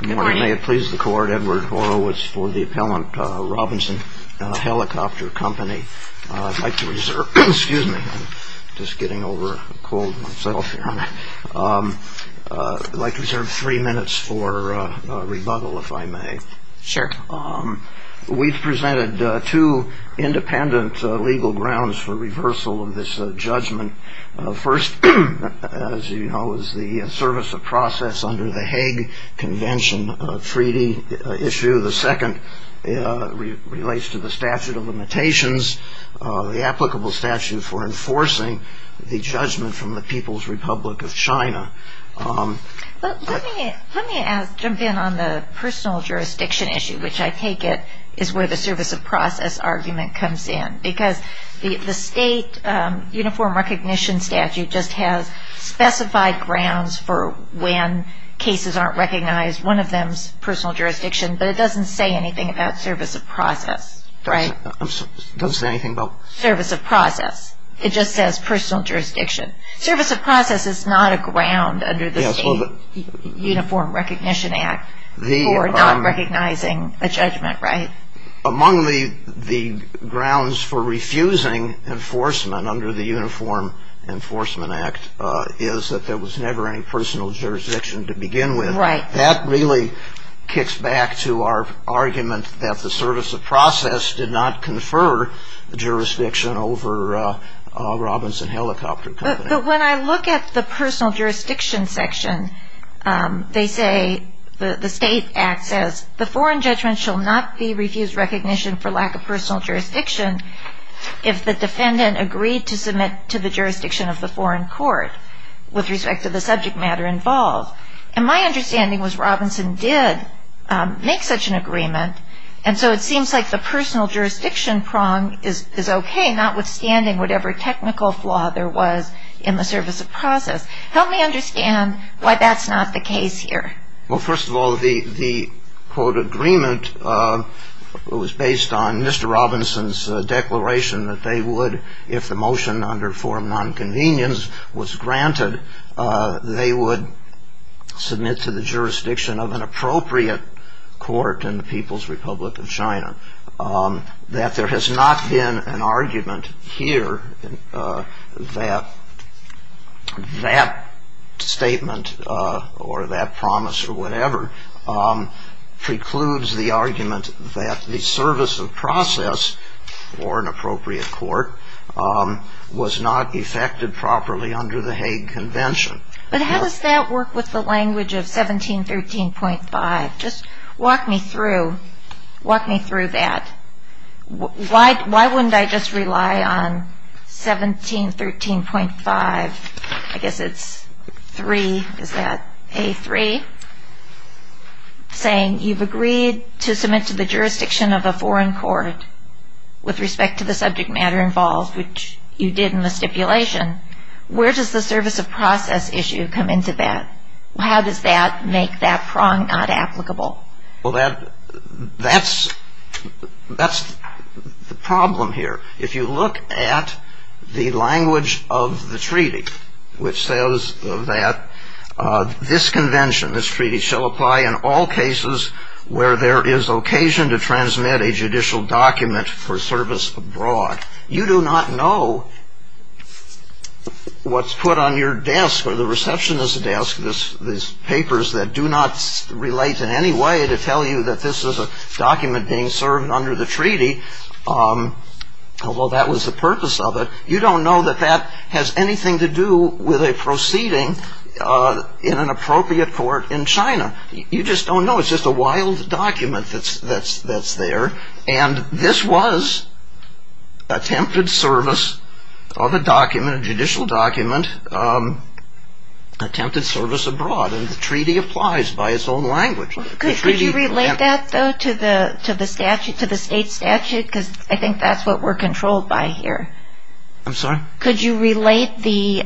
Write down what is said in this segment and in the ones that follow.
May it please the Court, Edward Horowitz for the Appellant Robinson Helicopter Company. I'd like to reserve three minutes for rebuttal, if I may. We've presented two independent legal grounds for reversal of this judgment. First, as you know, is the service of process under the Hague Convention treaty issue. The second relates to the statute of limitations, the applicable statute for enforcing the judgment from the People's Republic of China. Let me jump in on the personal jurisdiction issue, which I take it is where the service of process argument comes in. Because the state uniform recognition statute just has specified grounds for when cases aren't recognized. One of them is personal jurisdiction, but it doesn't say anything about service of process, right? It doesn't say anything about service of process. It just says personal jurisdiction. Service of process is not a ground under the state uniform recognition act for not recognizing a judgment, right? Among the grounds for refusing enforcement under the Uniform Enforcement Act is that there was never any personal jurisdiction to begin with. Right. That really kicks back to our argument that the service of process did not confer jurisdiction over Robinson Helicopter Company. But when I look at the personal jurisdiction section, they say, the state act says, the foreign judgment shall not be refused recognition for lack of personal jurisdiction if the defendant agreed to submit to the jurisdiction of the foreign court with respect to the subject matter involved. And my understanding was Robinson did make such an agreement. And so it seems like the personal jurisdiction prong is okay, notwithstanding whatever technical flaw there was in the service of process. Help me understand why that's not the case here. Well, first of all, the quote agreement was based on Mr. Robinson's declaration that they would, if the motion under forum nonconvenience was granted, they would submit to the jurisdiction of an appropriate court in the People's Republic of China. That there has not been an argument here that that statement or that promise or whatever precludes the argument that the service of process or an appropriate court was not effected properly under the Hague Convention. But how does that work with the language of 1713.5? Just walk me through that. Why wouldn't I just rely on 1713.5? I guess it's 3, is that A3? Saying you've agreed to submit to the jurisdiction of a foreign court with respect to the subject matter involved, which you did in the stipulation. Where does the service of process issue come into that? How does that make that prong not applicable? Well, that's the problem here. If you look at the language of the treaty, which says that this convention, this treaty, shall apply in all cases where there is occasion to transmit a judicial document for service abroad. You do not know what's put on your desk or the receptionist's desk, these papers that do not relate in any way to tell you that this is a document being served under the treaty, although that was the purpose of it. You don't know that that has anything to do with a proceeding in an appropriate court in China. You just don't know. It's just a wild document that's there. And this was attempted service of a document, a judicial document, attempted service abroad. And the treaty applies by its own language. Could you relate that, though, to the statute, to the state statute? Because I think that's what we're controlled by here. I'm sorry? Could you relate the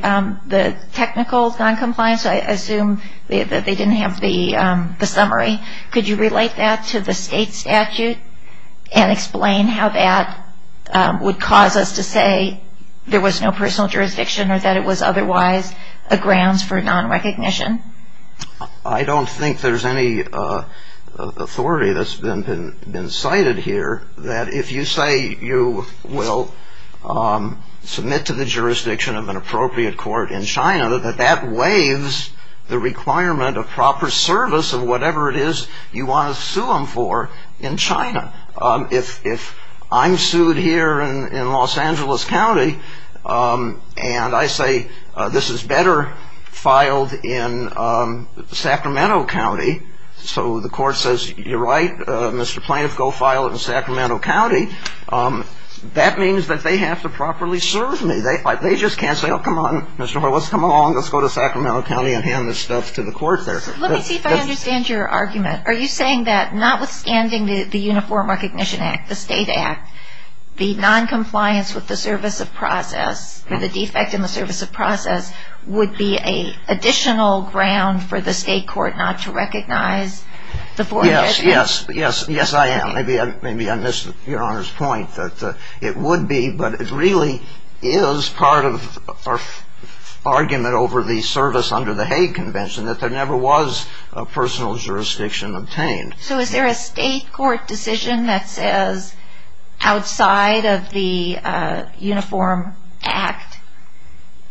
technical noncompliance? I assume that they didn't have the summary. Could you relate that to the state statute and explain how that would cause us to say there was no personal jurisdiction or that it was otherwise a grounds for nonrecognition? I don't think there's any authority that's been cited here that if you say you will submit to the jurisdiction of an appropriate court in China, that that waives the requirement of proper service of whatever it is you want to sue them for in China. If I'm sued here in Los Angeles County and I say this is better filed in Sacramento County, so the court says, you're right, Mr. Plaintiff, go file it in Sacramento County, that means that they have to properly serve me. They just can't say, oh, come on, Mr. Horowitz, come along, let's go to Sacramento County and hand this stuff to the court there. Let me see if I understand your argument. Are you saying that notwithstanding the Uniform Recognition Act, the state act, the noncompliance with the service of process or the defect in the service of process would be an additional ground for the state court not to recognize the foreign registry? Yes, yes, yes, yes, I am. Maybe I missed Your Honor's point that it would be, but it really is part of our argument over the service under the Hague Convention that there never was a personal jurisdiction obtained. So is there a state court decision that says outside of the Uniform Act,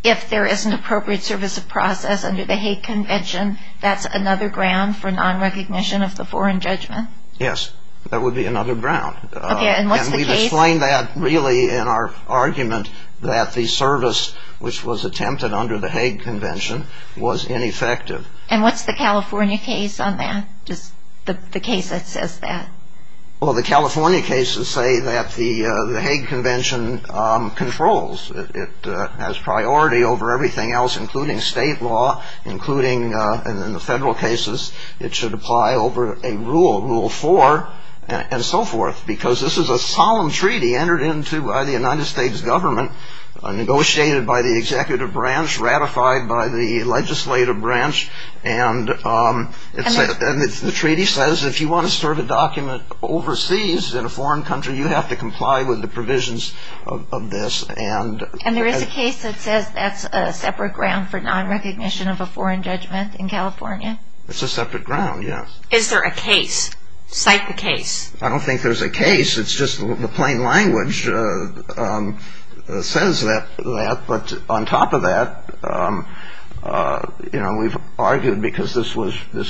if there is an appropriate service of process under the Hague Convention, that's another ground for nonrecognition of the foreign judgment? Yes, that would be another ground. Okay, and what's the case? And we've explained that really in our argument that the service which was attempted under the Hague Convention was ineffective. And what's the California case on that, just the case that says that? Well, the California cases say that the Hague Convention controls. It has priority over everything else, including state law, including, and in the federal cases, it should apply over a rule, Rule 4, and so forth, because this is a solemn treaty entered into by the United States government, negotiated by the executive branch, ratified by the legislative branch, and the treaty says if you want to serve a document overseas in a foreign country, you have to comply with the provisions of this. And there is a case that says that's a separate ground for nonrecognition of a foreign judgment in California? It's a separate ground, yes. Is there a case? Cite the case. I don't think there's a case. It's just the plain language says that. But on top of that, we've argued, because this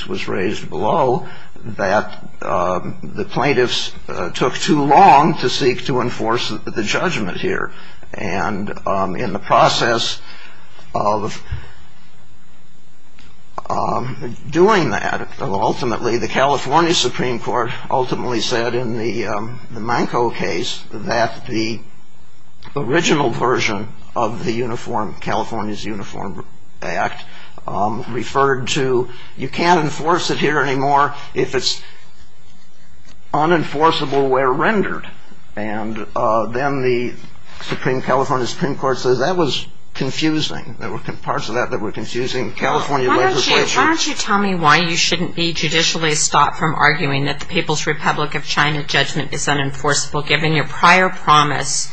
was raised below, that the plaintiffs took too long to seek to enforce the judgment here. And in the process of doing that, ultimately, the California Supreme Court ultimately said in the Manco case that the original version of the California's Uniform Act referred to, you can't enforce it here anymore if it's unenforceable where rendered. And then the California Supreme Court says that was confusing. There were parts of that that were confusing California legislation. Why don't you tell me why you shouldn't be judicially stopped from arguing that the People's Republic of China judgment is unenforceable, given your prior promise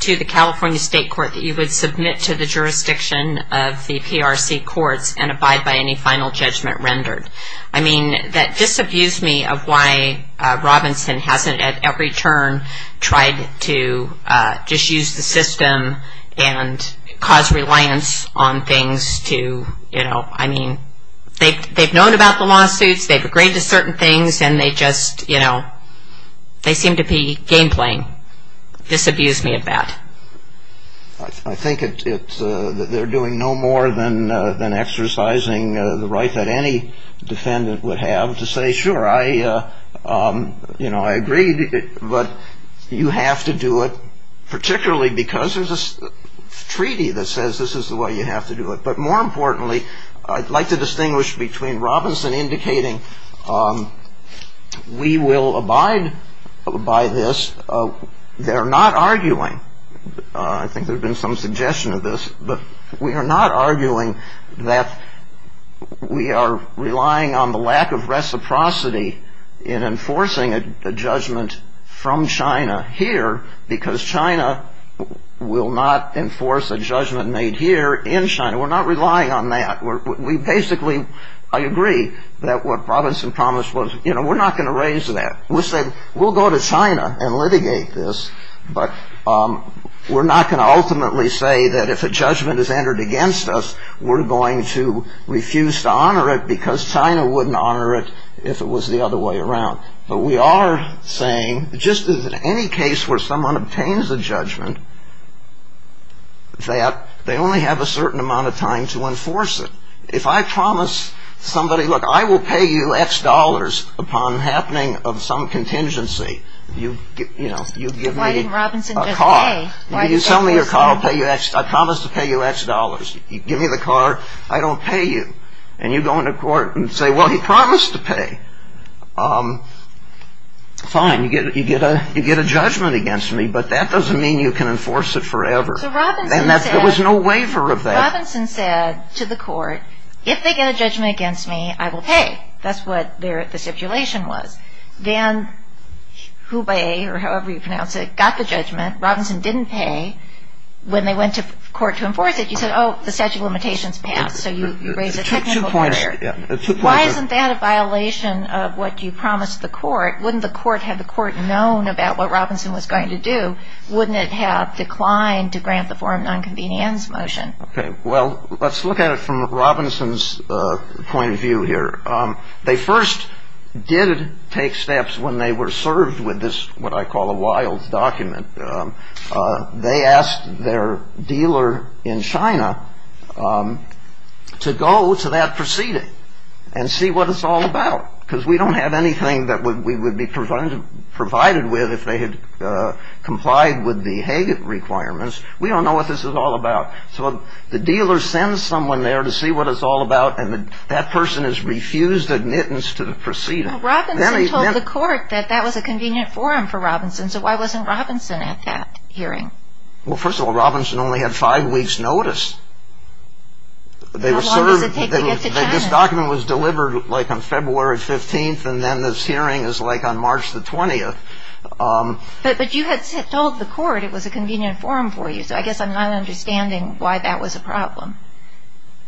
to the California State Court that you would submit to the jurisdiction of the PRC courts and abide by any final judgment rendered? I mean, that disabused me of why Robinson hasn't, at every turn, tried to just use the system and cause reliance on things to, you know, I mean, they've known about the lawsuits, they've agreed to certain things, and they just, you know, they seem to be game playing. Disabused me of that. I think they're doing no more than exercising the right that any defendant would have to say, sure, I, you know, I agree, but you have to do it, particularly because there's a treaty that says this is the way you have to do it. But more importantly, I'd like to distinguish between Robinson indicating we will abide by this, they're not arguing, I think there's been some suggestion of this, but we are not arguing that we are relying on the lack of reciprocity in enforcing a judgment from China here, because China will not enforce a judgment made here in China. We're not relying on that. We basically, I agree, that what Robinson promised was, you know, we're not going to raise that. We said we'll go to China and litigate this, but we're not going to ultimately say that if a judgment is entered against us, we're going to refuse to honor it because China wouldn't honor it if it was the other way around. But we are saying, just as in any case where someone obtains a judgment, that they only have a certain amount of time to enforce it. If I promise somebody, look, I will pay you X dollars upon happening of some contingency. You give me a car. You sell me your car, I promise to pay you X dollars. You give me the car, I don't pay you. And you go into court and say, well, he promised to pay. Fine, you get a judgment against me, but that doesn't mean you can enforce it forever. And there was no waiver of that. So Robinson said to the court, if they get a judgment against me, I will pay. That's what the stipulation was. Then Hubei, or however you pronounce it, got the judgment. Robinson didn't pay. When they went to court to enforce it, you said, oh, the statute of limitations passed, so you raised a technical barrier. Why isn't that a violation of what you promised the court? Wouldn't the court have the court known about what Robinson was going to do? Wouldn't it have declined to grant the foreign nonconvenience motion? Okay. Well, let's look at it from Robinson's point of view here. They first did take steps when they were served with this, what I call a wild document. They asked their dealer in China to go to that proceeding and see what it's all about, because we don't have anything that we would be provided with if they had complied with the Hague requirements. We don't know what this is all about. So the dealer sends someone there to see what it's all about, and that person has refused admittance to the proceeding. Well, Robinson told the court that that was a convenient forum for Robinson, so why wasn't Robinson at that hearing? Well, first of all, Robinson only had five weeks' notice. How long does it take to get to China? This document was delivered, like, on February 15th, and then this hearing is, like, on March 20th. But you had told the court it was a convenient forum for you, so I guess I'm not understanding why that was a problem.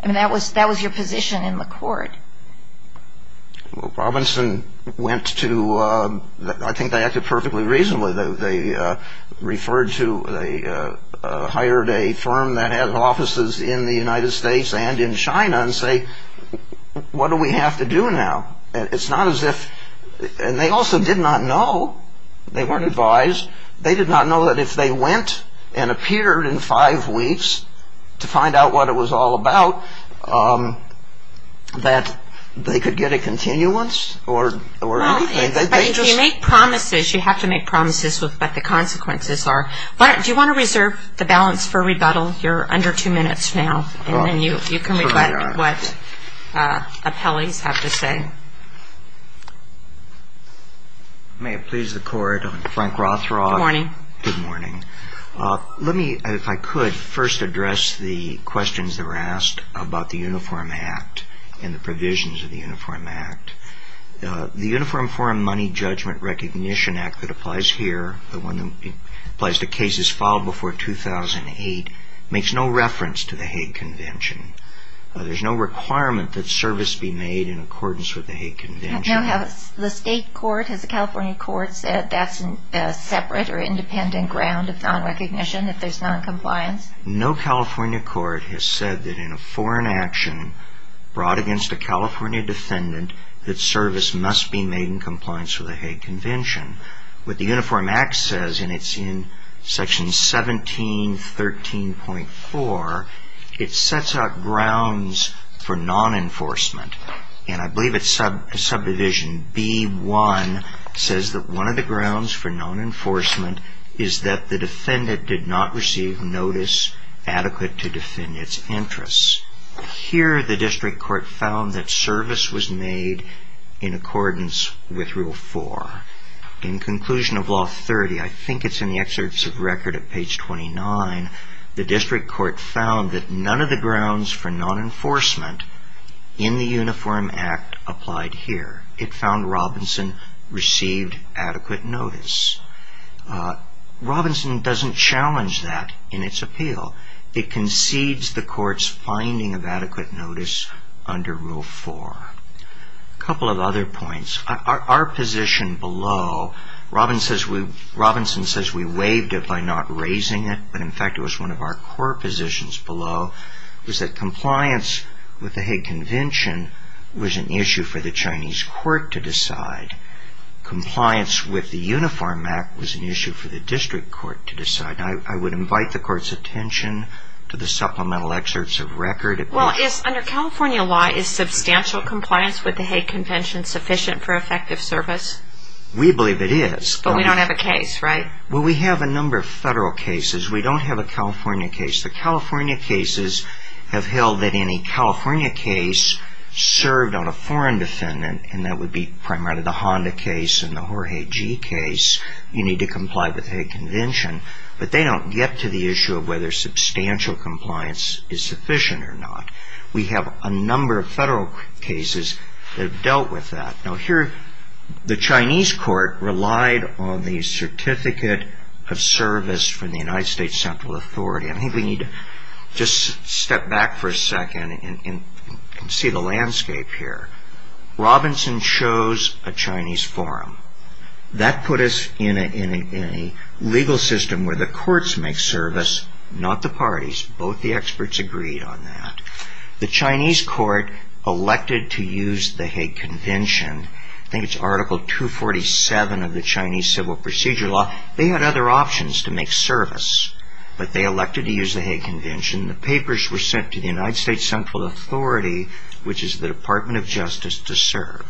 I mean, that was your position in the court. Well, Robinson went to – I think they acted perfectly reasonably. They referred to – they hired a firm that had offices in the United States and in China and say, what do we have to do now? It's not as if – and they also did not know. They weren't advised. They did not know that if they went and appeared in five weeks to find out what it was all about, that they could get a continuance or anything. But if you make promises, you have to make promises with what the consequences are. Do you want to reserve the balance for rebuttal? You're under two minutes now, and then you can rebut what appellees have to say. May it please the court. Frank Rothrock. Good morning. Good morning. Let me, if I could, first address the questions that were asked about the Uniform Act and the provisions of the Uniform Act. The Uniform Foreign Money Judgment Recognition Act that applies here, the one that applies to cases filed before 2008, makes no reference to the Hague Convention. There's no requirement that service be made in accordance with the Hague Convention. Now, has the state court, has the California court said that's a separate or independent ground of non-recognition if there's non-compliance? No California court has said that in a foreign action brought against a California defendant, that service must be made in compliance with the Hague Convention. What the Uniform Act says, and it's in section 1713.4, it sets out grounds for non-enforcement. And I believe it's subdivision B1 says that one of the grounds for non-enforcement is that the defendant did not receive notice adequate to defend its interests. Here the district court found that service was made in accordance with Rule 4. In conclusion of Law 30, I think it's in the excerpts of record at page 29, the district court found that none of the grounds for non-enforcement in the Uniform Act applied here. It found Robinson received adequate notice. Robinson doesn't challenge that in its appeal. It concedes the court's finding of adequate notice under Rule 4. A couple of other points. Our position below, Robinson says we waived it by not raising it, but in fact it was one of our core positions below, was that compliance with the Hague Convention was an issue for the Chinese court to decide. Compliance with the Uniform Act was an issue for the district court to decide. I would invite the court's attention to the supplemental excerpts of record. Well, under California law, is substantial compliance with the Hague Convention sufficient for effective service? We believe it is. But we don't have a case, right? Well, we have a number of federal cases. We don't have a California case. The California cases have held that any California case served on a foreign defendant, and that would be primarily the Honda case and the Jorge G case, you need to comply with the Hague Convention. But they don't get to the issue of whether substantial compliance is sufficient or not. We have a number of federal cases that have dealt with that. Now here, the Chinese court relied on the certificate of service from the United States Central Authority. I think we need to just step back for a second and see the landscape here. Robinson chose a Chinese forum. That put us in a legal system where the courts make service, not the parties. Both the experts agreed on that. The Chinese court elected to use the Hague Convention. I think it's Article 247 of the Chinese Civil Procedure Law. They had other options to make service, but they elected to use the Hague Convention. The papers were sent to the United States Central Authority, which is the Department of Justice, to serve.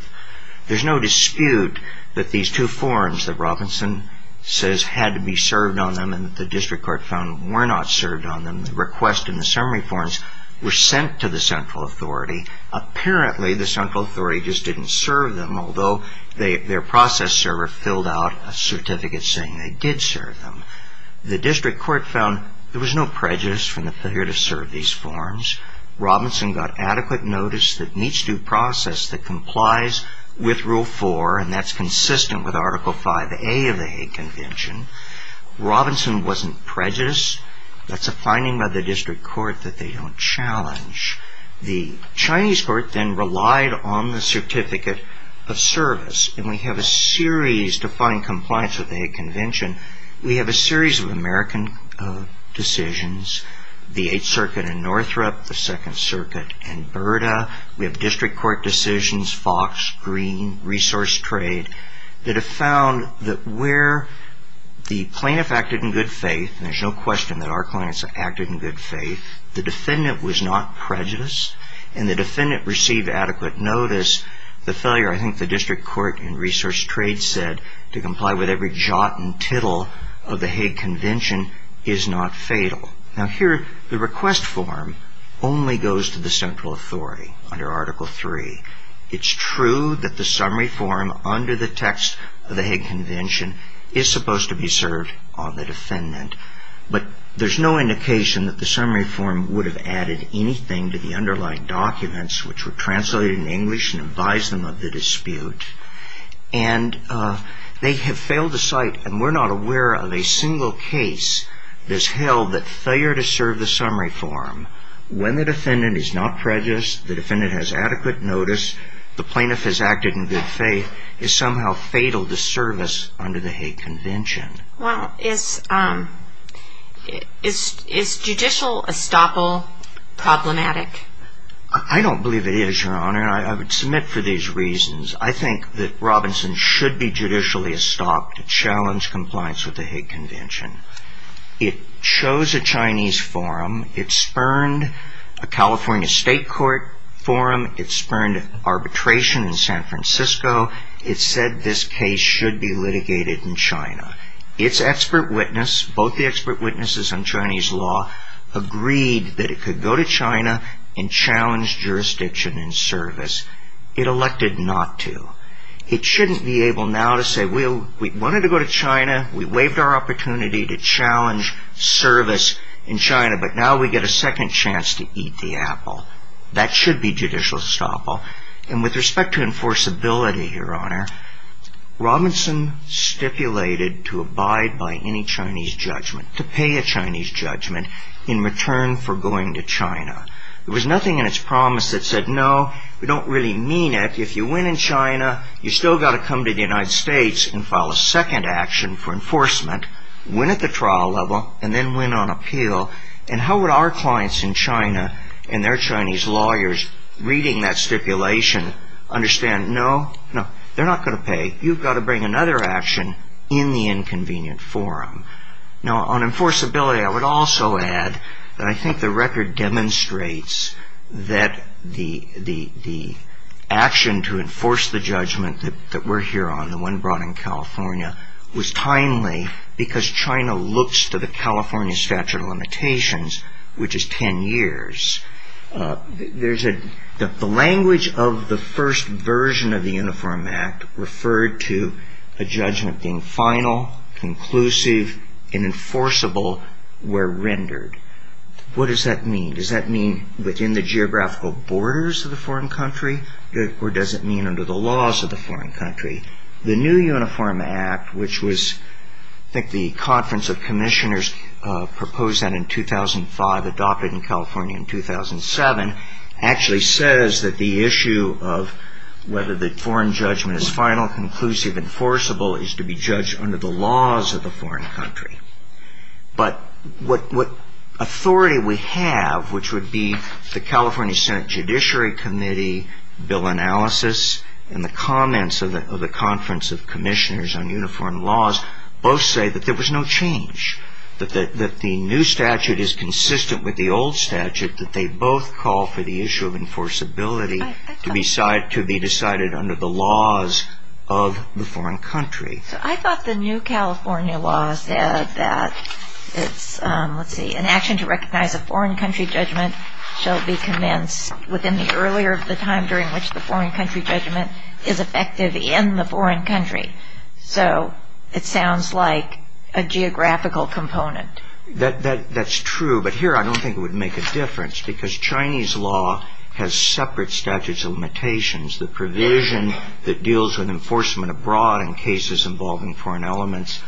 There's no dispute that these two forums that Robinson says had to be served on them and that the district court found were not served on them, the request and the summary forms, were sent to the central authority. Apparently, the central authority just didn't serve them, although their process server filled out a certificate saying they did serve them. The district court found there was no prejudice from the failure to serve these forums. Robinson got adequate notice that in each due process that complies with Rule 4, and that's consistent with Article 5A of the Hague Convention. Robinson wasn't prejudiced. That's a finding by the district court that they don't challenge. The Chinese court then relied on the certificate of service, and we have a series to find compliance with the Hague Convention. We have a series of American decisions, the Eighth Circuit in Northrop, the Second Circuit in Burda. We have district court decisions, Fox, Green, Resource Trade, that have found that where the plaintiff acted in good faith, and there's no question that our plaintiffs acted in good faith, the defendant was not prejudiced, and the defendant received adequate notice. The failure, I think the district court in Resource Trade said, to comply with every jot and tittle of the Hague Convention is not fatal. Now here, the request form only goes to the central authority under Article 3. It's true that the summary form under the text of the Hague Convention is supposed to be served on the defendant, but there's no indication that the summary form would have added anything to the underlying documents which were translated in English and advised them of the dispute. And they have failed to cite, and we're not aware of a single case that's held that failure to serve the summary form when the defendant is not prejudiced, the defendant has adequate notice, the plaintiff has acted in good faith, is somehow fatal to service under the Hague Convention. Well, is judicial estoppel problematic? I don't believe it is, Your Honor, and I would submit for these reasons. I think that Robinson should be judicially estopped to challenge compliance with the Hague Convention. It chose a Chinese forum, it spurned a California state court forum, it spurned arbitration in San Francisco, it said this case should be litigated in China. Its expert witness, both the expert witnesses on Chinese law, agreed that it could go to China and challenge jurisdiction and service. It elected not to. It shouldn't be able now to say, well, we wanted to go to China, we waived our opportunity to challenge service in China, but now we get a second chance to eat the apple. That should be judicial estoppel. And with respect to enforceability, Your Honor, Robinson stipulated to abide by any Chinese judgment, to pay a Chinese judgment in return for going to China. There was nothing in its promise that said, no, we don't really mean it, if you win in China, you've still got to come to the United States and file a second action for enforcement, win at the trial level, and then win on appeal, and how would our clients in China and their Chinese lawyers reading that stipulation understand, no, they're not going to pay, you've got to bring another action in the inconvenient forum. Now, on enforceability, I would also add that I think the record demonstrates that the action to enforce the judgment that we're here on, the one brought in California, was timely because China looks to the California statute of limitations, which is ten years. The language of the first version of the Uniform Act referred to a judgment being final, conclusive, and enforceable where rendered. What does that mean? Does that mean within the geographical borders of the foreign country, or does it mean under the laws of the foreign country? The new Uniform Act, which was, I think the conference of commissioners proposed that in 2005, adopted in California in 2007, actually says that the issue of whether the foreign judgment is final, conclusive, and enforceable is to be judged under the laws of the foreign country. But what authority we have, which would be the California Senate Judiciary Committee, bill analysis, and the comments of the conference of commissioners on uniform laws, both say that there was no change, that the new statute is consistent with the old statute, that they both call for the issue of enforceability to be decided under the laws of the foreign country. I thought the new California law said that an action to recognize a foreign country judgment shall be commenced within the earlier of the time during which the foreign country judgment is effective in the foreign country. So it sounds like a geographical component. That's true, but here I don't think it would make a difference because Chinese law has separate statutes of limitations. The provision that deals with enforcement abroad in cases involving foreign elements,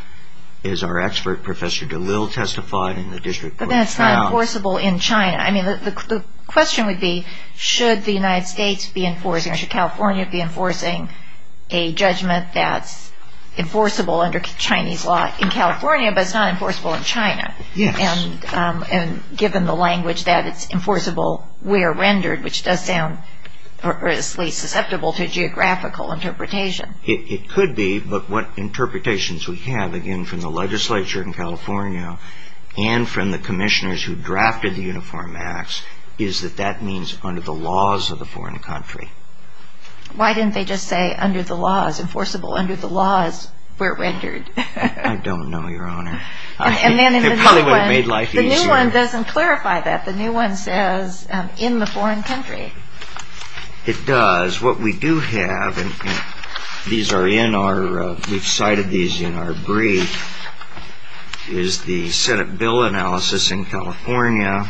as our expert Professor DeLille testified in the district court of trial. But that's not enforceable in China. The question would be, should the United States be enforcing, or should California be enforcing a judgment that's enforceable under Chinese law in California, but it's not enforceable in China. Yes. And given the language that it's enforceable where rendered, which does sound perversely susceptible to geographical interpretation. It could be, but what interpretations we have, again, from the legislature in California and from the commissioners who drafted the Uniform Acts, is that that means under the laws of the foreign country. Why didn't they just say under the laws, enforceable under the laws where rendered? I don't know, Your Honor. It probably would have made life easier. The new one doesn't clarify that. The new one says in the foreign country. It does. What we do have, and these are in our, we've cited these in our brief, is the Senate bill analysis in California.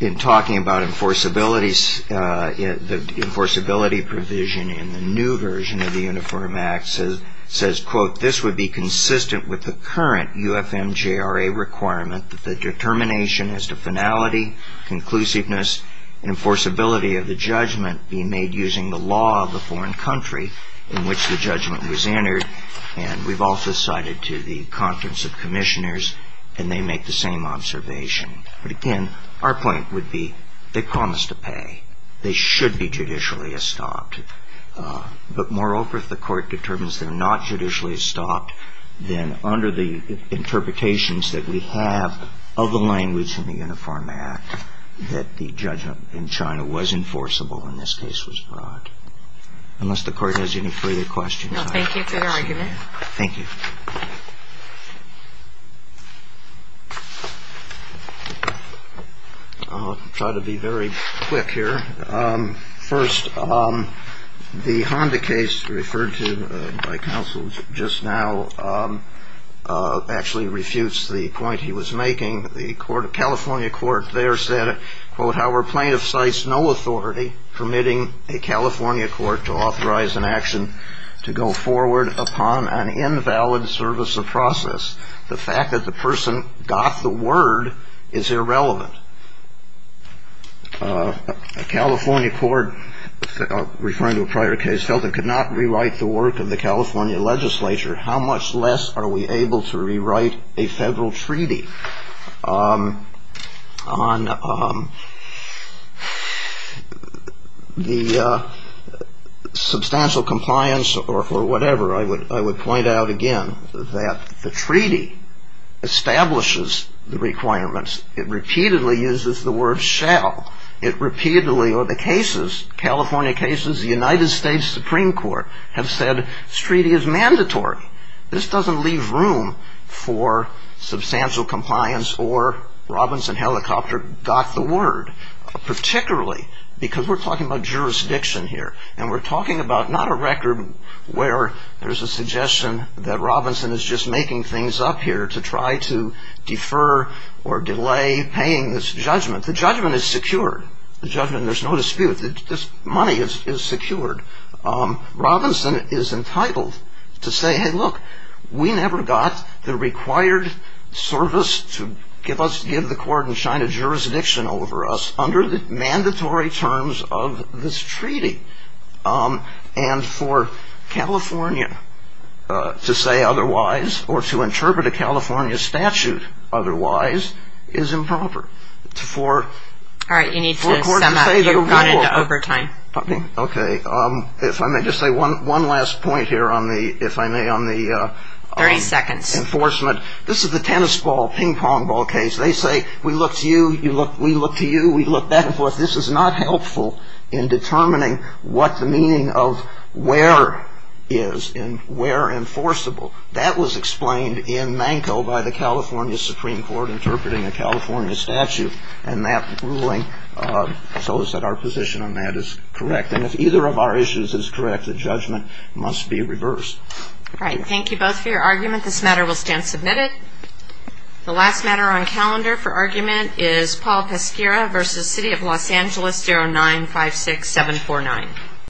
In talking about enforceability, the enforceability provision in the new version of the Uniform Acts says, quote, this would be consistent with the current UFMJRA requirement that the determination as to finality, conclusiveness, and enforceability of the judgment be made using the law of the foreign country in which the judgment was entered. And we've also cited to the conference of commissioners, and they make the same observation. But again, our point would be they promised to pay. They should be judicially estopped. But moreover, if the court determines they're not judicially estopped, then under the interpretations that we have of the language in the Uniform Act, that the judgment in China was enforceable when this case was brought. Unless the court has any further questions. No, thank you for your argument. Thank you. I'll try to be very quick here. First, the Honda case referred to by counsel just now actually refutes the point he was making. The California court there said, quote, Our plaintiff cites no authority permitting a California court to authorize an action to go forward upon an invalid service or process. The fact that the person got the word is irrelevant. A California court referring to a prior case felt it could not rewrite the work of the California legislature. How much less are we able to rewrite a federal treaty on the substantial compliance or whatever? I would point out again that the treaty establishes the requirements. It repeatedly uses the word shall. It repeatedly, or the cases, California cases, the United States Supreme Court, have said this treaty is mandatory. This doesn't leave room for substantial compliance or Robinson Helicopter got the word, particularly because we're talking about jurisdiction here. And we're talking about not a record where there's a suggestion that Robinson is just making things up here to try to defer or delay paying this judgment. The judgment is secured. The judgment, there's no dispute. This money is secured. Robinson is entitled to say, hey, look, we never got the required service to give the court in China jurisdiction over us under the mandatory terms of this treaty. And for California to say otherwise or to interpret a California statute otherwise is improper. All right, you need to sum up. You've gone into overtime. Okay, if I may just say one last point here, if I may, on the enforcement. Thirty seconds. This is the tennis ball, ping pong ball case. They say, we look to you, we look to you, we look back and forth. This is not helpful in determining what the meaning of where is and where enforceable. That was explained in Manko by the California Supreme Court in terms of interpreting a California statute. And that ruling shows that our position on that is correct. And if either of our issues is correct, the judgment must be reversed. All right, thank you both for your argument. This matter will stand submitted. The last matter on calendar for argument is Paul Peschera v. City of Los Angeles 0956749.